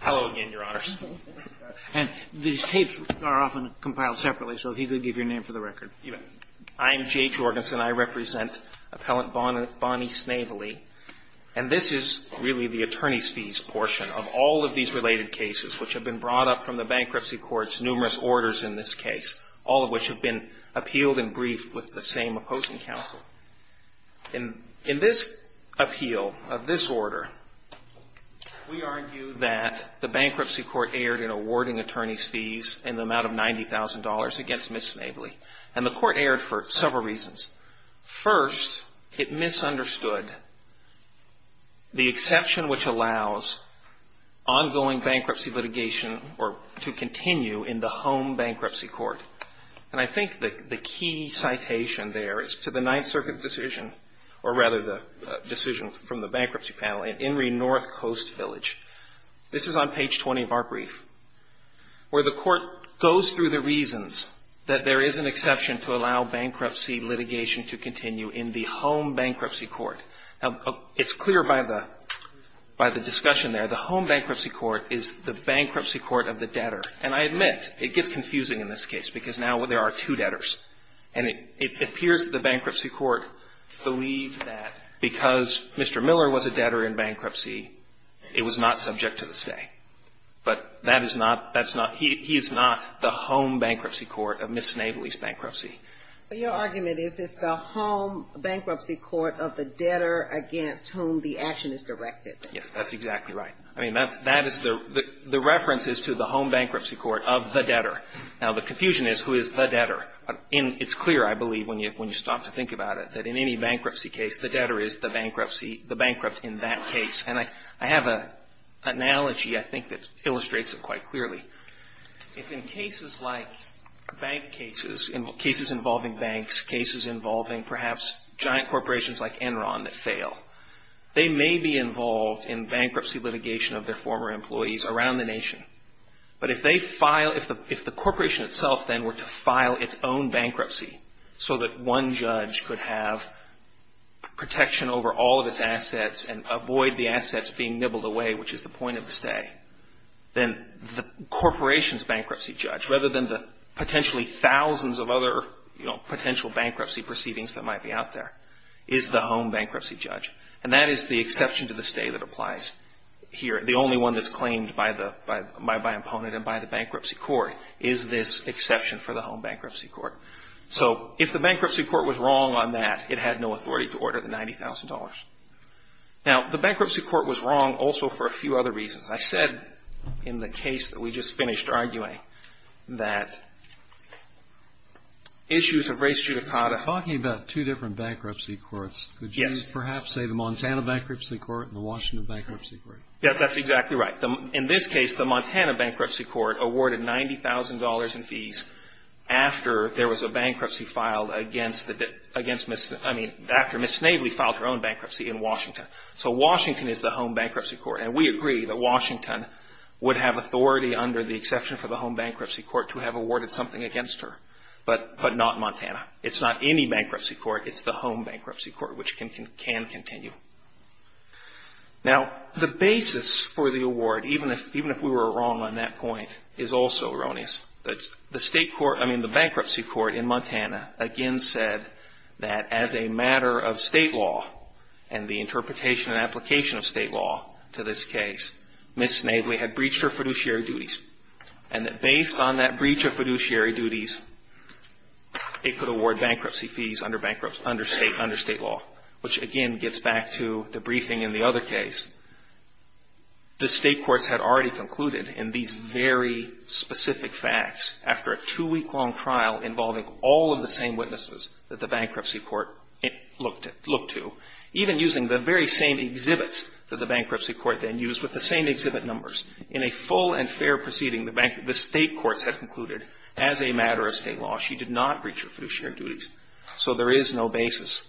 Hello again, Your Honors. And these tapes are often compiled separately, so if you could give your name for the record. I'm Jay Jorgensen. I represent Appellant Bonnie Snavely. And this is really the attorney's fees portion of all of these related cases, which have been brought up from the bankruptcy court's numerous orders in this case, all of which have been appealed and briefed with the same opposing counsel. In this appeal of this order, we argue that the bankruptcy court erred in awarding attorney's fees in the amount of $90,000 against Ms. Snavely. And the court erred for several reasons. First, it misunderstood the exception which allows ongoing bankruptcy litigation to continue in the home bankruptcy court. And I think the key citation there is to the Ninth Circuit's decision, or rather the decision from the bankruptcy panel in Inree North Coast Village. This is on page 20 of our brief, where the court goes through the reasons that there is an exception to allow bankruptcy litigation to continue in the home bankruptcy court. Now, it's clear by the discussion there, the home bankruptcy court is the bankruptcy court of the debtor. And I admit, it gets confusing in this case, because now there are two debtors. And it appears the bankruptcy court believed that because Mr. Miller was a debtor in bankruptcy, it was not subject to the stay. But that is not, that's not, he is not the home bankruptcy court of Ms. Snavely's bankruptcy. So your argument is it's the home bankruptcy court of the debtor against whom the action is directed. Yes, that's exactly right. I mean, that's, that is the, the reference is to the home bankruptcy court of the debtor. Now, the confusion is who is the debtor. It's clear, I believe, when you stop to think about it, that in any bankruptcy case, the debtor is the bankruptcy, the bankrupt in that case. And I have an analogy, I think, that illustrates it quite clearly. If in cases like bank cases, cases involving banks, cases involving perhaps giant corporations like Enron that fail, they may be involved in bankruptcy litigation of their former employees around the nation. But if they file, if the, if the corporation itself then were to file its own bankruptcy so that one judge could have protection over all of its assets and avoid the assets being nibbled away, which is the point of the stay, then the corporation's bankruptcy judge, rather than the potentially thousands of other, you know, And that is the exception to the stay that applies here. The only one that's claimed by the, by, by, by opponent and by the bankruptcy court is this exception for the home bankruptcy court. So if the bankruptcy court was wrong on that, it had no authority to order the $90,000. Now, the bankruptcy court was wrong also for a few other reasons. I said in the case that we just finished arguing that issues of race judicata. Talking about two different bankruptcy courts, could you perhaps say the Montana bankruptcy court and the Washington bankruptcy court? Yeah, that's exactly right. In this case, the Montana bankruptcy court awarded $90,000 in fees after there was a bankruptcy filed against the, against Ms., I mean, after Ms. Snavely filed her own bankruptcy in Washington. So Washington is the home bankruptcy court. And we agree that Washington would have authority under the exception for the home bankruptcy court to have awarded something against her. But, but not Montana. It's not any bankruptcy court. It's the home bankruptcy court, which can, can continue. Now, the basis for the award, even if, even if we were wrong on that point, is also erroneous. The state court, I mean, the bankruptcy court in Montana again said that as a matter of state law and the interpretation and application of state law to this case, Ms. Snavely had breached her fiduciary duties. And that based on that breach of fiduciary duties, it could award bankruptcy fees under bankruptcy, under state, under state law, which again gets back to the briefing in the other case. The state courts had already concluded in these very specific facts after a two-week-long trial involving all of the same witnesses that the bankruptcy court looked at, looked to, even using the very same exhibits that the bankruptcy court then used with the same exhibit numbers, in a full and fair proceeding, the bankruptcy, the state courts had concluded as a matter of state law, she did not breach her fiduciary duties. So there is no basis,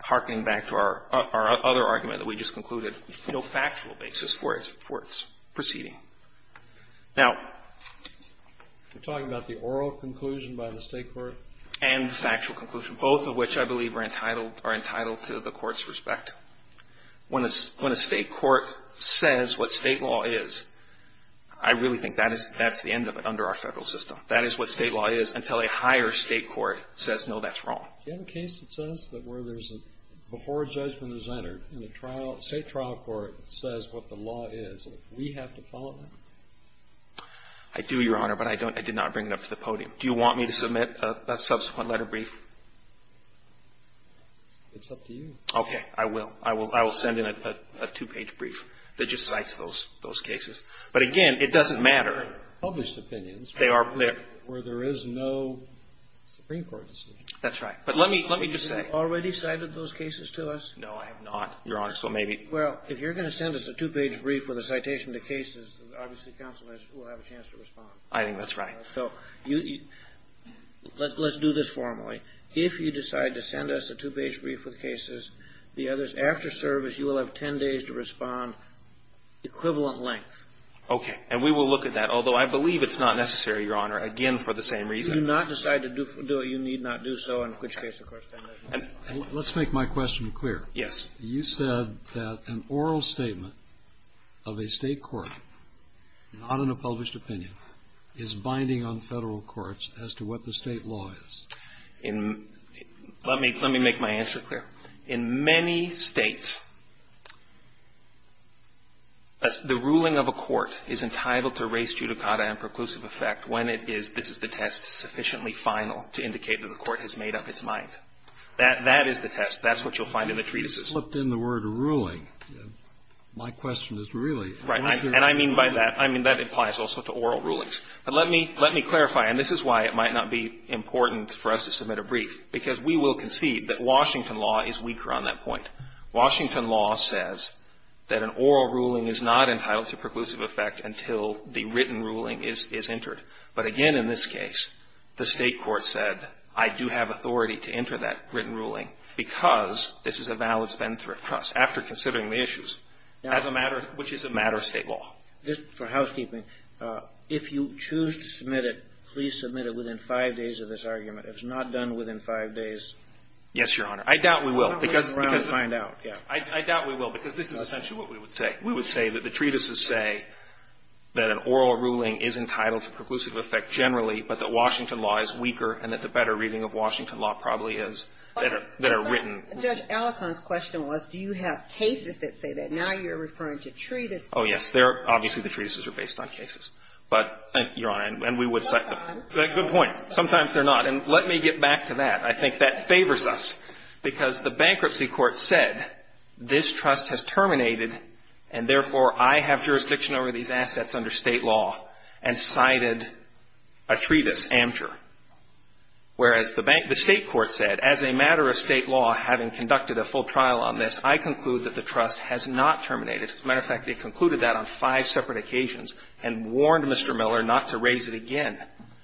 harkening back to our, our other argument that we just concluded, no factual basis for its, for its proceeding. Now, we're talking about the oral conclusion by the state court. And the factual conclusion, both of which I believe are entitled, are entitled to the court's respect. When a, when a state court says what state law is, I really think that is, that's the end of it under our Federal system. That is what state law is until a higher state court says, no, that's wrong. Do you have a case that says that where there's a, before a judgment is entered and the trial, state trial court says what the law is, we have to follow it? I do, Your Honor, but I don't, I did not bring it up to the podium. Do you want me to submit a, a subsequent letter brief? It's up to you. Okay. I will. I will, I will send in a, a two-page brief that just cites those, those cases. But again, it doesn't matter. They're published opinions. They are, they're. Where there is no Supreme Court decision. That's right. But let me, let me just say. Have you already cited those cases to us? No, I have not, Your Honor, so maybe. Well, if you're going to send us a two-page brief with a citation to cases, obviously counsel will have a chance to respond. I think that's right. So you, let's, let's do this formally. If you decide to send us a two-page brief with cases, the others, after service, you will have ten days to respond, equivalent length. Okay. And we will look at that, although I believe it's not necessary, Your Honor, again, for the same reason. If you do not decide to do, do it, you need not do so, in which case, of course. Let's make my question clear. Yes. You said that an oral statement of a State court, not in a published opinion, is binding on Federal courts as to what the State law is. In, let me, let me make my answer clear. In many States, the ruling of a court is entitled to race, judicata, and preclusive effect when it is, this is the test sufficiently final to indicate that the court has made up its mind. That, that is the test. That's what you'll find in the treatises. You flipped in the word ruling. My question is really, is there a ruling? Right. And I mean by that, I mean that applies also to oral rulings. But let me, let me clarify, and this is why it might not be important for us to submit a brief, because we will concede that Washington law is weaker on that point. Washington law says that an oral ruling is not entitled to preclusive effect until the written ruling is, is entered. But again, in this case, the State court said, I do have authority to enter that written ruling because this is a valid spendthrift trust, after considering the issues, as a matter, which is a matter of State law. This, for housekeeping, if you choose to submit it, please submit it within five days of this argument. If it's not done within five days. Yes, Your Honor. I doubt we will. Because, because. I doubt we will, because this is essentially what we would say. We would say that the treatises say that an oral ruling is entitled to preclusive effect generally, but that Washington law is weaker, and that the better reading of Washington law probably is that a, that a written. Judge Alicon's question was, do you have cases that say that? Now you're referring to treatises. Oh, yes. They're, obviously, the treatises are based on cases. But, Your Honor, and we would cite them. Good point. Sometimes they're not. And let me get back to that. I think that favors us, because the bankruptcy court said, this trust has terminated, and therefore I have jurisdiction over these assets under State law, and cited a treatise, Amateur. Whereas the State court said, as a matter of State law, having conducted a full trial on this, I conclude that the trust has not terminated. As a matter of fact, it concluded that on five separate occasions and warned Mr. Miller not to raise it again,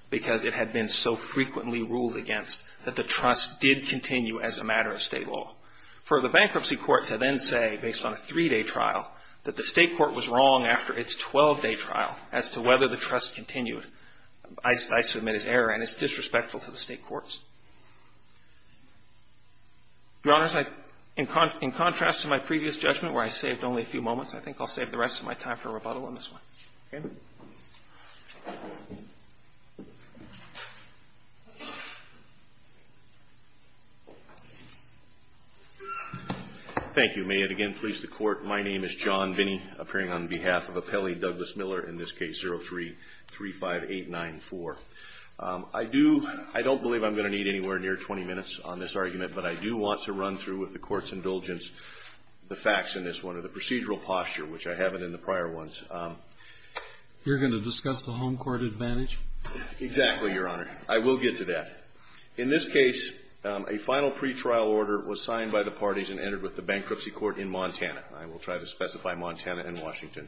because it had been so frequently ruled against that the trust did continue as a matter of State law. For the bankruptcy court to then say, based on a three-day trial, that the State court was wrong after its 12-day trial as to whether the trust continued, I submit as error, and it's disrespectful to the State courts. Your Honors, in contrast to my previous judgment where I saved only a few moments, I think I'll save the rest of my time for rebuttal on this one. Okay? Thank you. May it again please the Court. My name is John Binney, appearing on behalf of Appellee Douglas Miller, in this case 03-35894. I do – I don't believe I'm going to need anywhere near 20 minutes on this argument, but I do want to run through, with the Court's indulgence, the facts in this one or the procedural posture, which I haven't in the prior ones. You're going to discuss the home court advantage? Exactly, Your Honor. I will get to that. In this case, a final pretrial order was signed by the parties and entered with the bankruptcy court in Montana. I will try to specify Montana and Washington.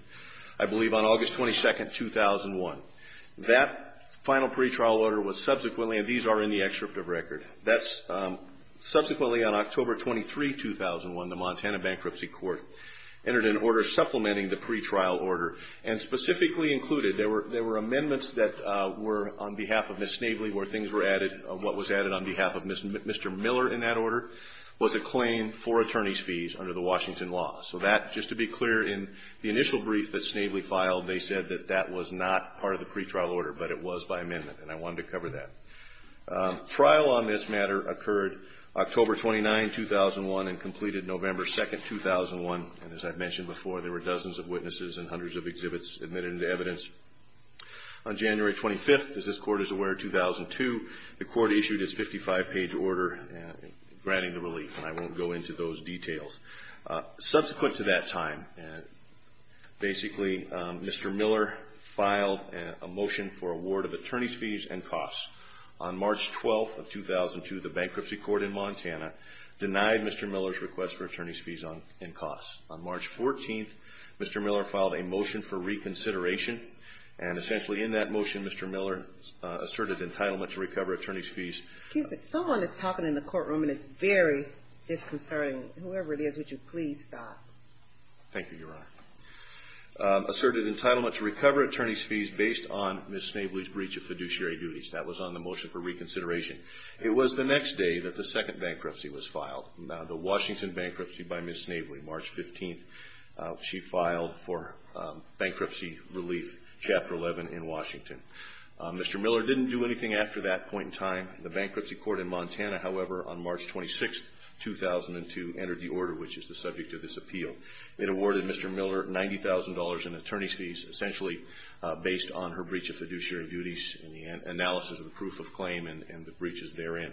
I believe on August 22, 2001. That final pretrial order was subsequently – and these are in the excerpt of record. That's subsequently on October 23, 2001, the Montana bankruptcy court entered an order supplementing the pretrial order and specifically included – there were amendments that were on behalf of Ms. Snavely where things were added – what was added on behalf of Mr. Miller in that order was a claim for attorney's fees under the Washington law. So that, just to be clear, in the initial brief that Snavely filed, they said that that was not part of the pretrial order, but it was by amendment. And I wanted to cover that. Trial on this matter occurred October 29, 2001, and completed November 2, 2001. And as I've mentioned before, there were dozens of witnesses and hundreds of exhibits admitted into evidence. On January 25, as this Court is aware, 2002, the Court issued its 55-page order granting the relief. And I won't go into those details. Subsequent to that time, basically, Mr. Miller filed a motion for award of attorney's fees and costs. On March 12, 2002, the bankruptcy court in Montana denied Mr. Miller's request for attorney's fees and costs. On March 14, Mr. Miller filed a motion for reconsideration. And essentially in that motion, Mr. Miller asserted entitlement to recover attorney's fees. Someone is talking in the courtroom, and it's very disconcerting. Whoever it is, would you please stop? Thank you, Your Honor. Asserted entitlement to recover attorney's fees based on Ms. Snavely's breach of fiduciary duties. That was on the motion for reconsideration. It was the next day that the second bankruptcy was filed, the Washington bankruptcy by Ms. Snavely. March 15, she filed for bankruptcy relief, Chapter 11 in Washington. Mr. Miller didn't do anything after that point in time. The bankruptcy court in Montana, however, on March 26, 2002, entered the order, which is the subject of this appeal. It awarded Mr. Miller $90,000 in attorney's fees, essentially based on her breach of fiduciary duties and the analysis of the proof of claim and the breaches therein.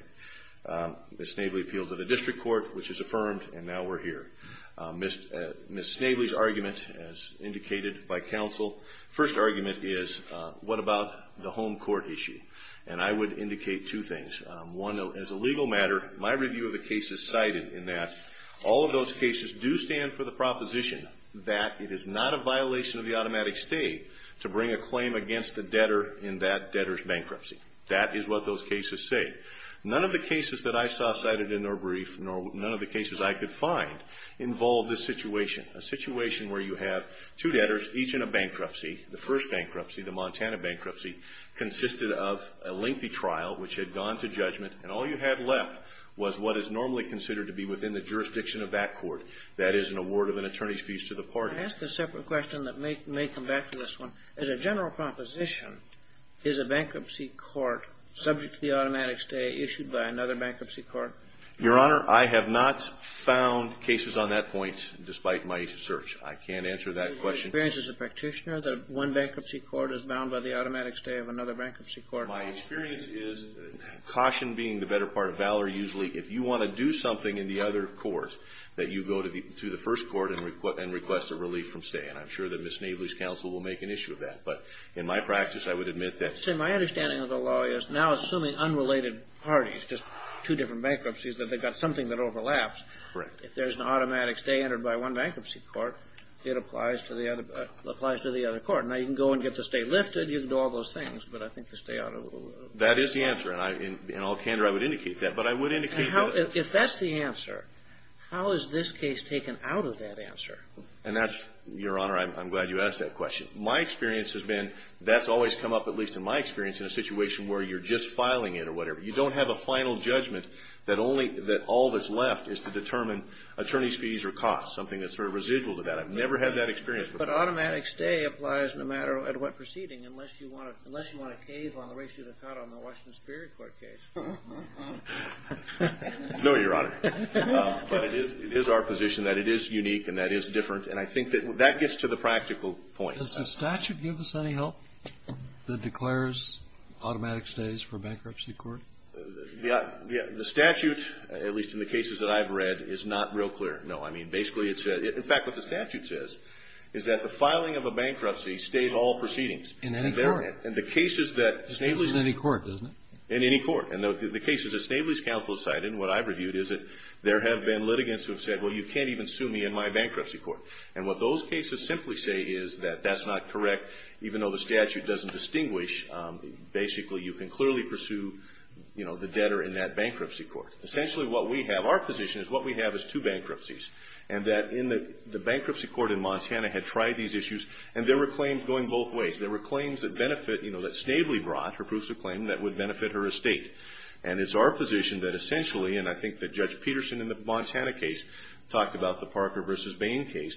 Ms. Snavely appealed to the district court, which is affirmed, and now we're here. Ms. Snavely's argument, as indicated by counsel, first argument is, what about the home court issue? And I would indicate two things. One, as a legal matter, my review of the cases cited in that all of those cases do stand for the proposition that it is not a violation of the automatic state to bring a claim against a debtor in that debtor's bankruptcy. That is what those cases say. None of the cases that I saw cited in their brief nor none of the cases I could find involved this situation, a situation where you have two debtors, each in a bankruptcy. The first bankruptcy, the Montana bankruptcy, consisted of a lengthy trial which had gone to judgment, and all you had left was what is normally considered to be within the jurisdiction of that court. That is an award of an attorney's fees to the party. I ask a separate question that may come back to this one. As a general proposition, is a bankruptcy court subject to the automatic state issued by another bankruptcy court? Your Honor, I have not found cases on that point, despite my search. I can't answer that question. My experience as a practitioner, that one bankruptcy court is bound by the automatic stay of another bankruptcy court. My experience is, caution being the better part of valor, usually if you want to do something in the other court, that you go to the first court and request a relief from stay. And I'm sure that Ms. Navely's counsel will make an issue of that. But in my practice, I would admit that my understanding of the law is now assuming unrelated parties, just two different bankruptcies, that they've got something that overlaps. Correct. If there's an automatic stay entered by one bankruptcy court, it applies to the other court. Now, you can go and get the stay lifted. You can do all those things. But I think the stay out of the law. That is the answer. And in all candor, I would indicate that. But I would indicate that. If that's the answer, how is this case taken out of that answer? And that's, Your Honor, I'm glad you asked that question. My experience has been, that's always come up, at least in my experience, in a situation where you're just filing it or whatever. You don't have a final judgment that all that's left is to determine attorney's fees or costs, something that's sort of residual to that. I've never had that experience before. But automatic stay applies no matter at what proceeding, unless you want to cave on the ratio of the cut on the Washington Superior Court case. No, Your Honor. But it is our position that it is unique and that it is different. And I think that gets to the practical point. Does the statute give us any help that declares automatic stays for bankruptcy court? Yeah. The statute, at least in the cases that I've read, is not real clear. No. I mean, basically it says – in fact, what the statute says is that the filing of a bankruptcy stays all proceedings. In any court? In the cases that Snavely's – It stays in any court, doesn't it? In any court. And the cases that Snavely's counsel has cited and what I've reviewed is that there have been litigants who have said, well, you can't even sue me in my bankruptcy court. And what those cases simply say is that that's not correct, even though the statute doesn't distinguish. Basically, you can clearly pursue, you know, the debtor in that bankruptcy court. Essentially, what we have – our position is what we have is two bankruptcies and that in the bankruptcy court in Montana had tried these issues and there were claims going both ways. There were claims that benefit – you know, that Snavely brought, her proofs of claim, that would benefit her estate. And it's our position that essentially – and I think that Judge Peterson in the case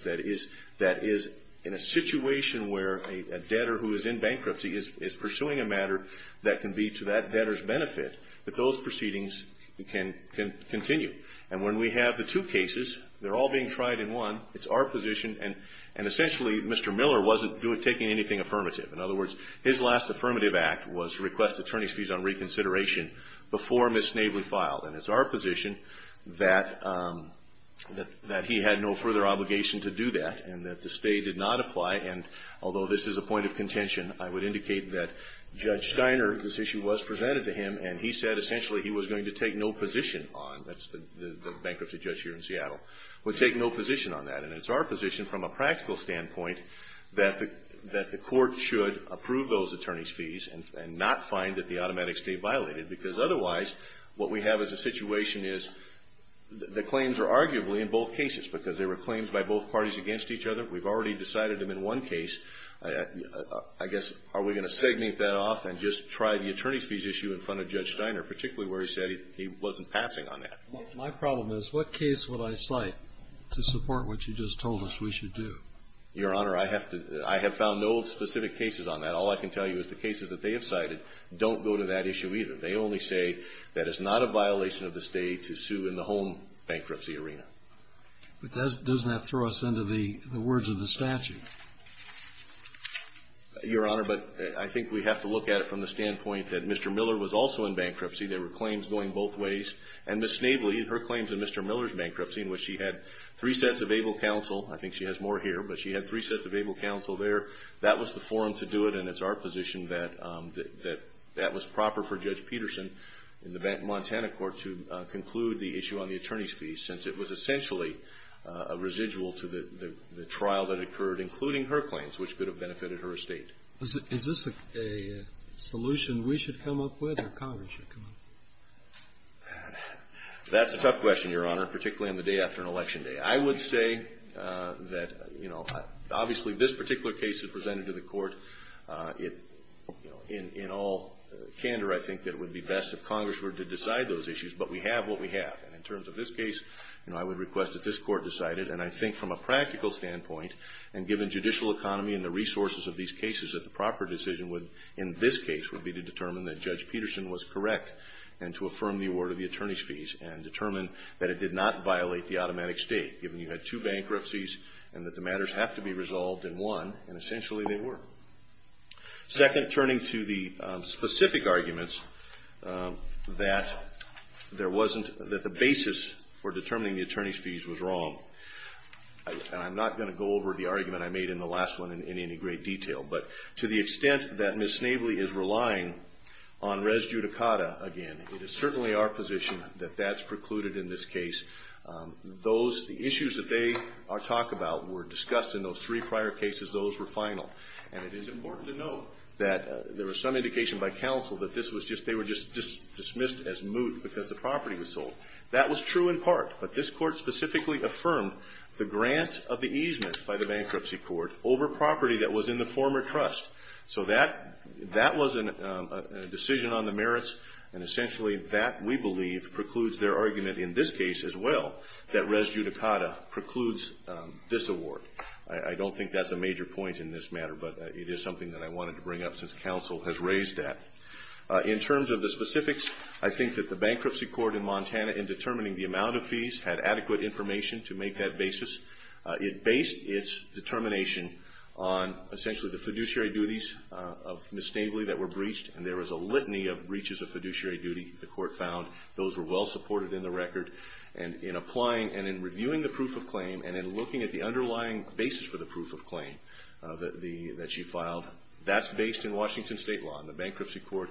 that is – that is in a situation where a debtor who is in bankruptcy is pursuing a matter that can be to that debtor's benefit, that those proceedings can continue. And when we have the two cases, they're all being tried in one. It's our position – and essentially, Mr. Miller wasn't taking anything affirmative. In other words, his last affirmative act was to request attorney's fees on reconsideration before Ms. Snavely filed. And it's our position that he had no further obligation to do that and that the state did not apply. And although this is a point of contention, I would indicate that Judge Steiner – this issue was presented to him and he said essentially he was going to take no position on – that's the bankruptcy judge here in Seattle – would take no position on that. And it's our position from a practical standpoint that the court should approve those attorney's fees and not find that the automatic stay violated because otherwise what we have as a situation is the claims are arguably in both cases because they were claims by both parties against each other. We've already decided them in one case. I guess are we going to segment that off and just try the attorney's fees issue in front of Judge Steiner, particularly where he said he wasn't passing on that? My problem is what case would I cite to support what you just told us we should do? Your Honor, I have to – I have found no specific cases on that. All I can tell you is the cases that they have cited don't go to that issue either. They only say that it's not a violation of the stay to sue in the home bankruptcy arena. But doesn't that throw us into the words of the statute? Your Honor, but I think we have to look at it from the standpoint that Mr. Miller was also in bankruptcy. There were claims going both ways. And Ms. Snavely, her claims of Mr. Miller's bankruptcy in which she had three sets of able counsel – I think she has more here – but she had three sets of able counsel there, that was the forum to do it, and it's our position that that was proper for Judge Peterson in the Montana court to conclude the issue on the attorney's fees since it was essentially a residual to the trial that occurred, including her claims, which could have benefited her estate. Is this a solution we should come up with or Congress should come up with? That's a tough question, Your Honor, particularly on the day after an election day. I would say that, you know, obviously this particular case is presented to the standard, I think, that it would be best if Congress were to decide those issues, but we have what we have. And in terms of this case, you know, I would request that this Court decide it. And I think from a practical standpoint, and given judicial economy and the resources of these cases, that the proper decision would, in this case, would be to determine that Judge Peterson was correct and to affirm the award of the attorney's fees and determine that it did not violate the automatic state, given you had two bankruptcies and that the matters have to be resolved in one, and essentially they were. Second, turning to the specific arguments that there wasn't, that the basis for determining the attorney's fees was wrong, and I'm not going to go over the argument I made in the last one in any great detail, but to the extent that Ms. Snavely is relying on res judicata again, it is certainly our position that that's precluded in this case. Those, the issues that they talk about were discussed in those three prior cases. Those were final. And it is important to note that there was some indication by counsel that this was just, they were just dismissed as moot because the property was sold. That was true in part, but this Court specifically affirmed the grant of the easement by the bankruptcy court over property that was in the former trust. So that, that was a decision on the merits, and essentially that, we believe, precludes their argument in this case as well, that res judicata precludes this award. I don't think that's a major point in this matter, but it is something that I wanted to bring up since counsel has raised that. In terms of the specifics, I think that the bankruptcy court in Montana, in determining the amount of fees, had adequate information to make that basis. It based its determination on, essentially, the fiduciary duties of Ms. Snavely that were breached, and there was a litany of breaches of fiduciary duty. The Court found those were well supported in the record. And in applying and in reviewing the proof of claim and in looking at the underlying basis for the proof of claim that she filed, that's based in Washington State law. And the bankruptcy court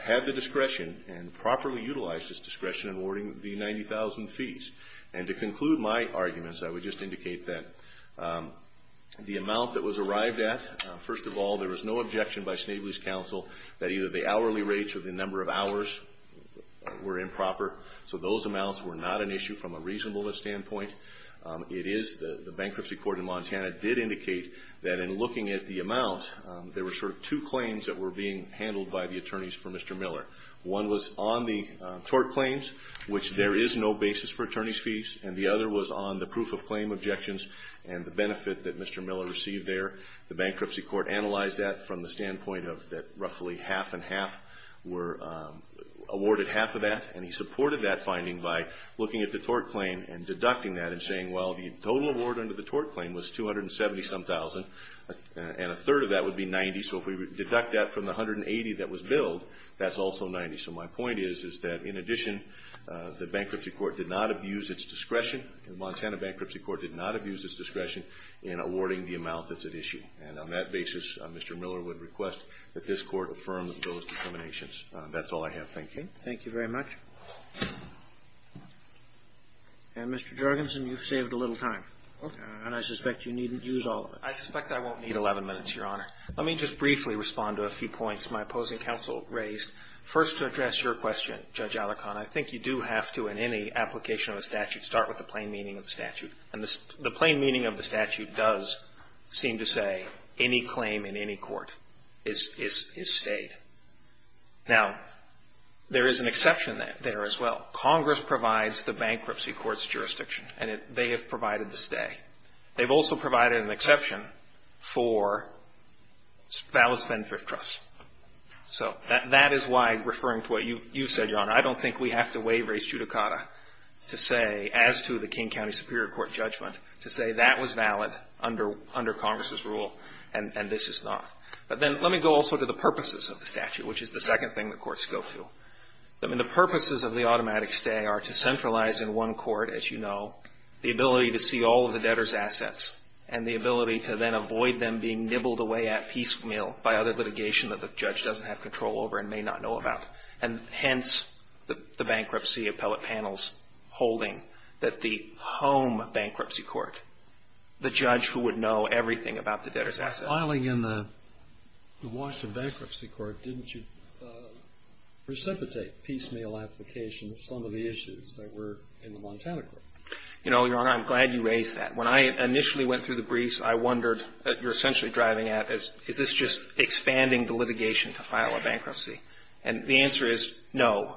had the discretion and properly utilized its discretion in awarding the 90,000 fees. And to conclude my arguments, I would just indicate that the amount that was arrived at, first of all, there was no objection by Snavely's counsel that either the hourly rates or the number of hours were improper. So those amounts were not an issue from a reasonableness standpoint. It is the bankruptcy court in Montana did indicate that in looking at the amount, there were sort of two claims that were being handled by the attorneys for Mr. Miller. One was on the tort claims, which there is no basis for attorneys' fees, and the other was on the proof of claim objections and the benefit that Mr. Miller received there. The bankruptcy court analyzed that from the standpoint of that roughly half and he supported that finding by looking at the tort claim and deducting that and saying, well, the total award under the tort claim was 270-some thousand and a third of that would be 90. So if we deduct that from the 180 that was billed, that's also 90. So my point is, is that in addition, the bankruptcy court did not abuse its discretion. The Montana bankruptcy court did not abuse its discretion in awarding the amount that's at issue. And on that basis, Mr. Miller would request that this court affirm those determinations. That's all I have. Thank you. Thank you very much. And, Mr. Jorgensen, you've saved a little time. Okay. And I suspect you needn't use all of it. I suspect I won't need 11 minutes, Your Honor. Let me just briefly respond to a few points my opposing counsel raised. First, to address your question, Judge Alicorn, I think you do have to, in any application of a statute, start with the plain meaning of the statute. And the plain meaning of the statute does seem to say any claim in any court is stayed. Now, there is an exception there as well. Congress provides the bankruptcy court's jurisdiction, and they have provided the stay. They've also provided an exception for Fallis-Fenn Thrift Trusts. So that is why, referring to what you said, Your Honor, I don't think we have to waive res judicata to say, as to the King County Superior Court judgment, to say that was valid under Congress's rule and this is not. But then let me go also to the purposes of the statute, which is the second thing that courts go to. I mean, the purposes of the automatic stay are to centralize in one court, as you know, the ability to see all of the debtor's assets and the ability to then avoid them being nibbled away at piecemeal by other litigation that the judge doesn't have control over and may not know about. And hence, the bankruptcy appellate panel's holding that the home bankruptcy court, the judge who would know everything about the debtor's assets. But filing in the Washington Bankruptcy Court, didn't you precipitate piecemeal application of some of the issues that were in the Montana court? You know, Your Honor, I'm glad you raised that. When I initially went through the briefs, I wondered, that you're essentially driving at, is this just expanding the litigation to file a bankruptcy? And the answer is no.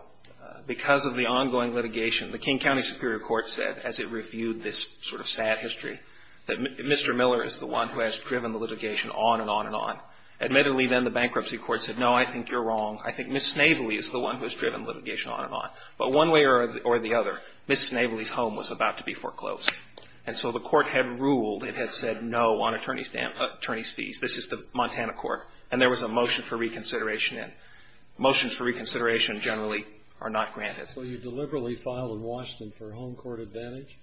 Because of the ongoing litigation, the King County Superior Court said, as it reviewed this sort of sad history, that Mr. Miller is the one who has driven the litigation on and on and on. Admittedly, then, the bankruptcy court said, no, I think you're wrong. I think Ms. Snavely is the one who has driven litigation on and on. But one way or the other, Ms. Snavely's home was about to be foreclosed. And so the court had ruled. It had said no on attorney's fees. This is the Montana court. And there was a motion for reconsideration in. Motions for reconsideration generally are not granted. So you deliberately filed in Washington for home court advantage?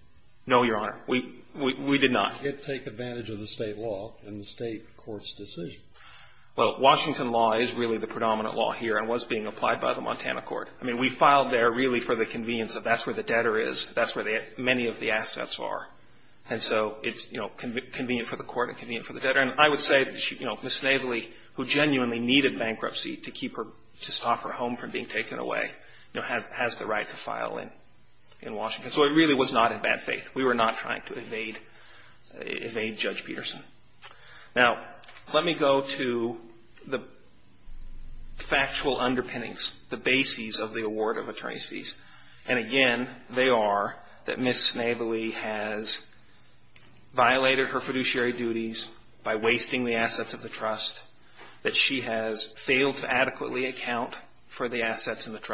No, Your Honor. We did not. Did it take advantage of the State law in the State court's decision? Well, Washington law is really the predominant law here and was being applied by the Montana court. I mean, we filed there really for the convenience of that's where the debtor is, that's where many of the assets are. And so it's, you know, convenient for the court and convenient for the debtor. And I would say, you know, Ms. Snavely, who genuinely needed bankruptcy to keep her to stop her home from being taken away, you know, has the right to file in Washington. And so it really was not in bad faith. We were not trying to evade Judge Peterson. Now, let me go to the factual underpinnings, the bases of the award of attorney's fees. And again, they are that Ms. Snavely has violated her fiduciary duties by wasting the assets of the trust, that she has failed to adequately account for the assets in the very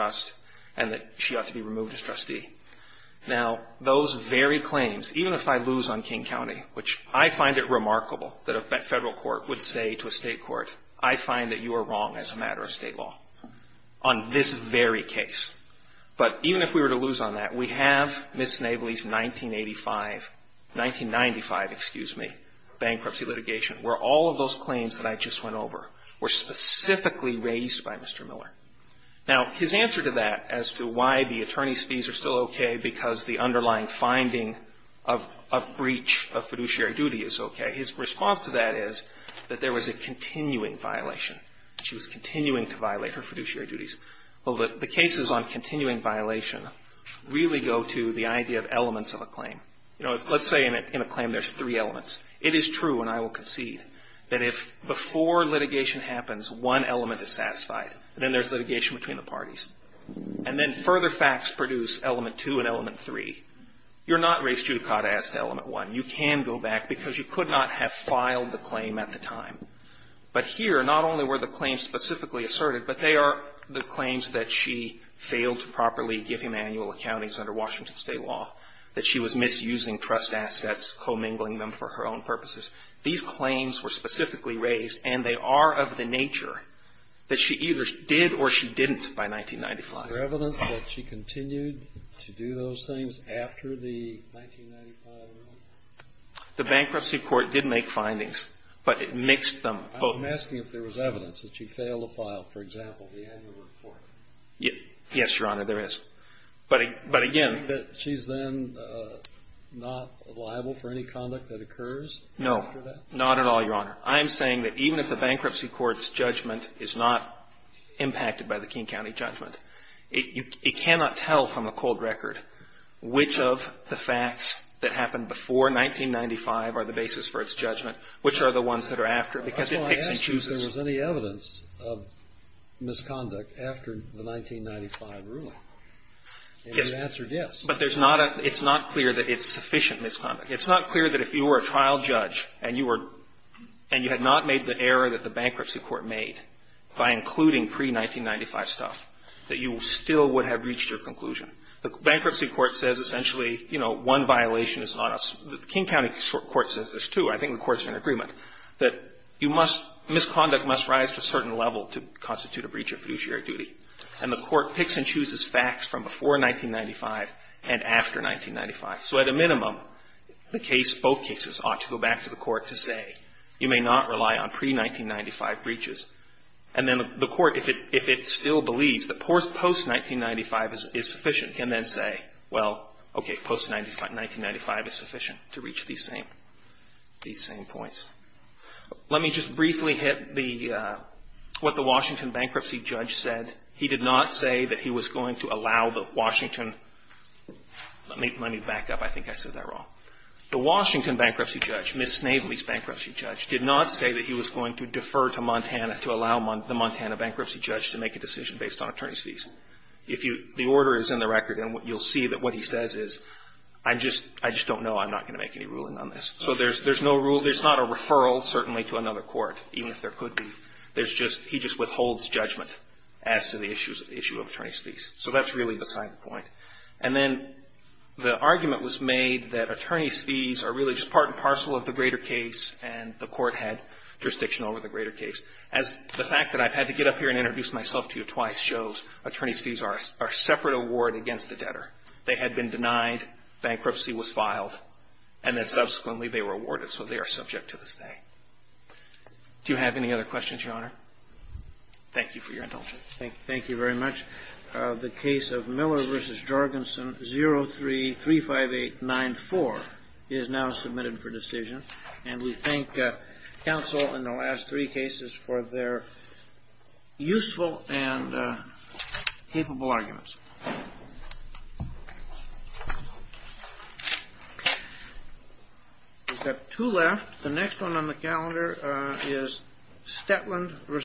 claims, even if I lose on King County, which I find it remarkable that a Federal court would say to a State court, I find that you are wrong as a matter of State law on this very case. But even if we were to lose on that, we have Ms. Snavely's 1985, 1995, excuse me, bankruptcy litigation, where all of those claims that I just went over were specifically raised by Mr. Miller. Now, his answer to that as to why the attorney's fees are still okay because the underlying finding of breach of fiduciary duty is okay, his response to that is that there was a continuing violation. She was continuing to violate her fiduciary duties. Well, the cases on continuing violation really go to the idea of elements of a claim. You know, let's say in a claim there's three elements. It is true, and I will concede, that if before litigation happens, one element is satisfied, and then there's litigation between the parties, and then further facts produce element two and element three, you're not raised judicata as to element one. You can go back because you could not have filed the claim at the time. But here, not only were the claims specifically asserted, but they are the claims that she failed to properly give him annual accountings under Washington State law, that she was misusing trust assets, commingling them for her own purposes. These claims were specifically raised, and they are of the nature that she either did or she didn't by 1995. Is there evidence that she continued to do those things after the 1995 ruling? The Bankruptcy Court did make findings, but it mixed them both. I'm asking if there was evidence that she failed to file, for example, the annual report. Yes, Your Honor, there is. But again But she's then not liable for any conduct that occurs? No. Not at all, Your Honor. I'm saying that even if the Bankruptcy Court's judgment is not impacted by the King County judgment, it cannot tell from a cold record which of the facts that happened before 1995 are the basis for its judgment, which are the ones that are after, because it picks and chooses. I thought I asked you if there was any evidence of misconduct after the 1995 ruling, and you answered yes. But there's not a It's not clear that it's sufficient misconduct. It's not clear that if you were a trial judge and you were and you had not made the error that the Bankruptcy Court made by including pre-1995 stuff, that you still would have reached your conclusion. The Bankruptcy Court says essentially, you know, one violation is not a King County court says this, too. I think the courts are in agreement that you must misconduct must rise to a certain level to constitute a breach of fiduciary duty. And the court picks and chooses facts from before 1995 and after 1995. So at a minimum, the case, both cases, ought to go back to the court to say, you may not rely on pre-1995 breaches. And then the court, if it still believes that post-1995 is sufficient, can then say, well, okay, post-1995 is sufficient to reach these same points. Let me just briefly hit the what the Washington bankruptcy judge said. He did not say that he was going to allow the Washington. Let me back up. I think I said that wrong. The Washington bankruptcy judge, Ms. Snavely's bankruptcy judge, did not say that he was going to defer to Montana to allow the Montana bankruptcy judge to make a decision based on attorney's fees. If you the order is in the record, and you'll see that what he says is, I just don't know. I'm not going to make any ruling on this. So there's no rule. There's not a referral, certainly, to another court, even if there could be. There's just, he just withholds judgment as to the issue of attorney's fees. So that's really beside the point. And then the argument was made that attorney's fees are really just part and parcel of the greater case, and the court had jurisdiction over the greater case. As the fact that I've had to get up here and introduce myself to you twice shows, attorney's fees are a separate award against the debtor. They had been denied, bankruptcy was filed, and then subsequently they were awarded, so they are subject to this day. Do you have any other questions, Your Honor? Thank you for your indulgence. Thank you very much. The case of Miller v. Jorgensen, 03-35894, is now submitted for decision. And we thank counsel in the last three cases for their useful and capable arguments. We've got two left. The next one on the calendar is Stetland v. Jorgensen.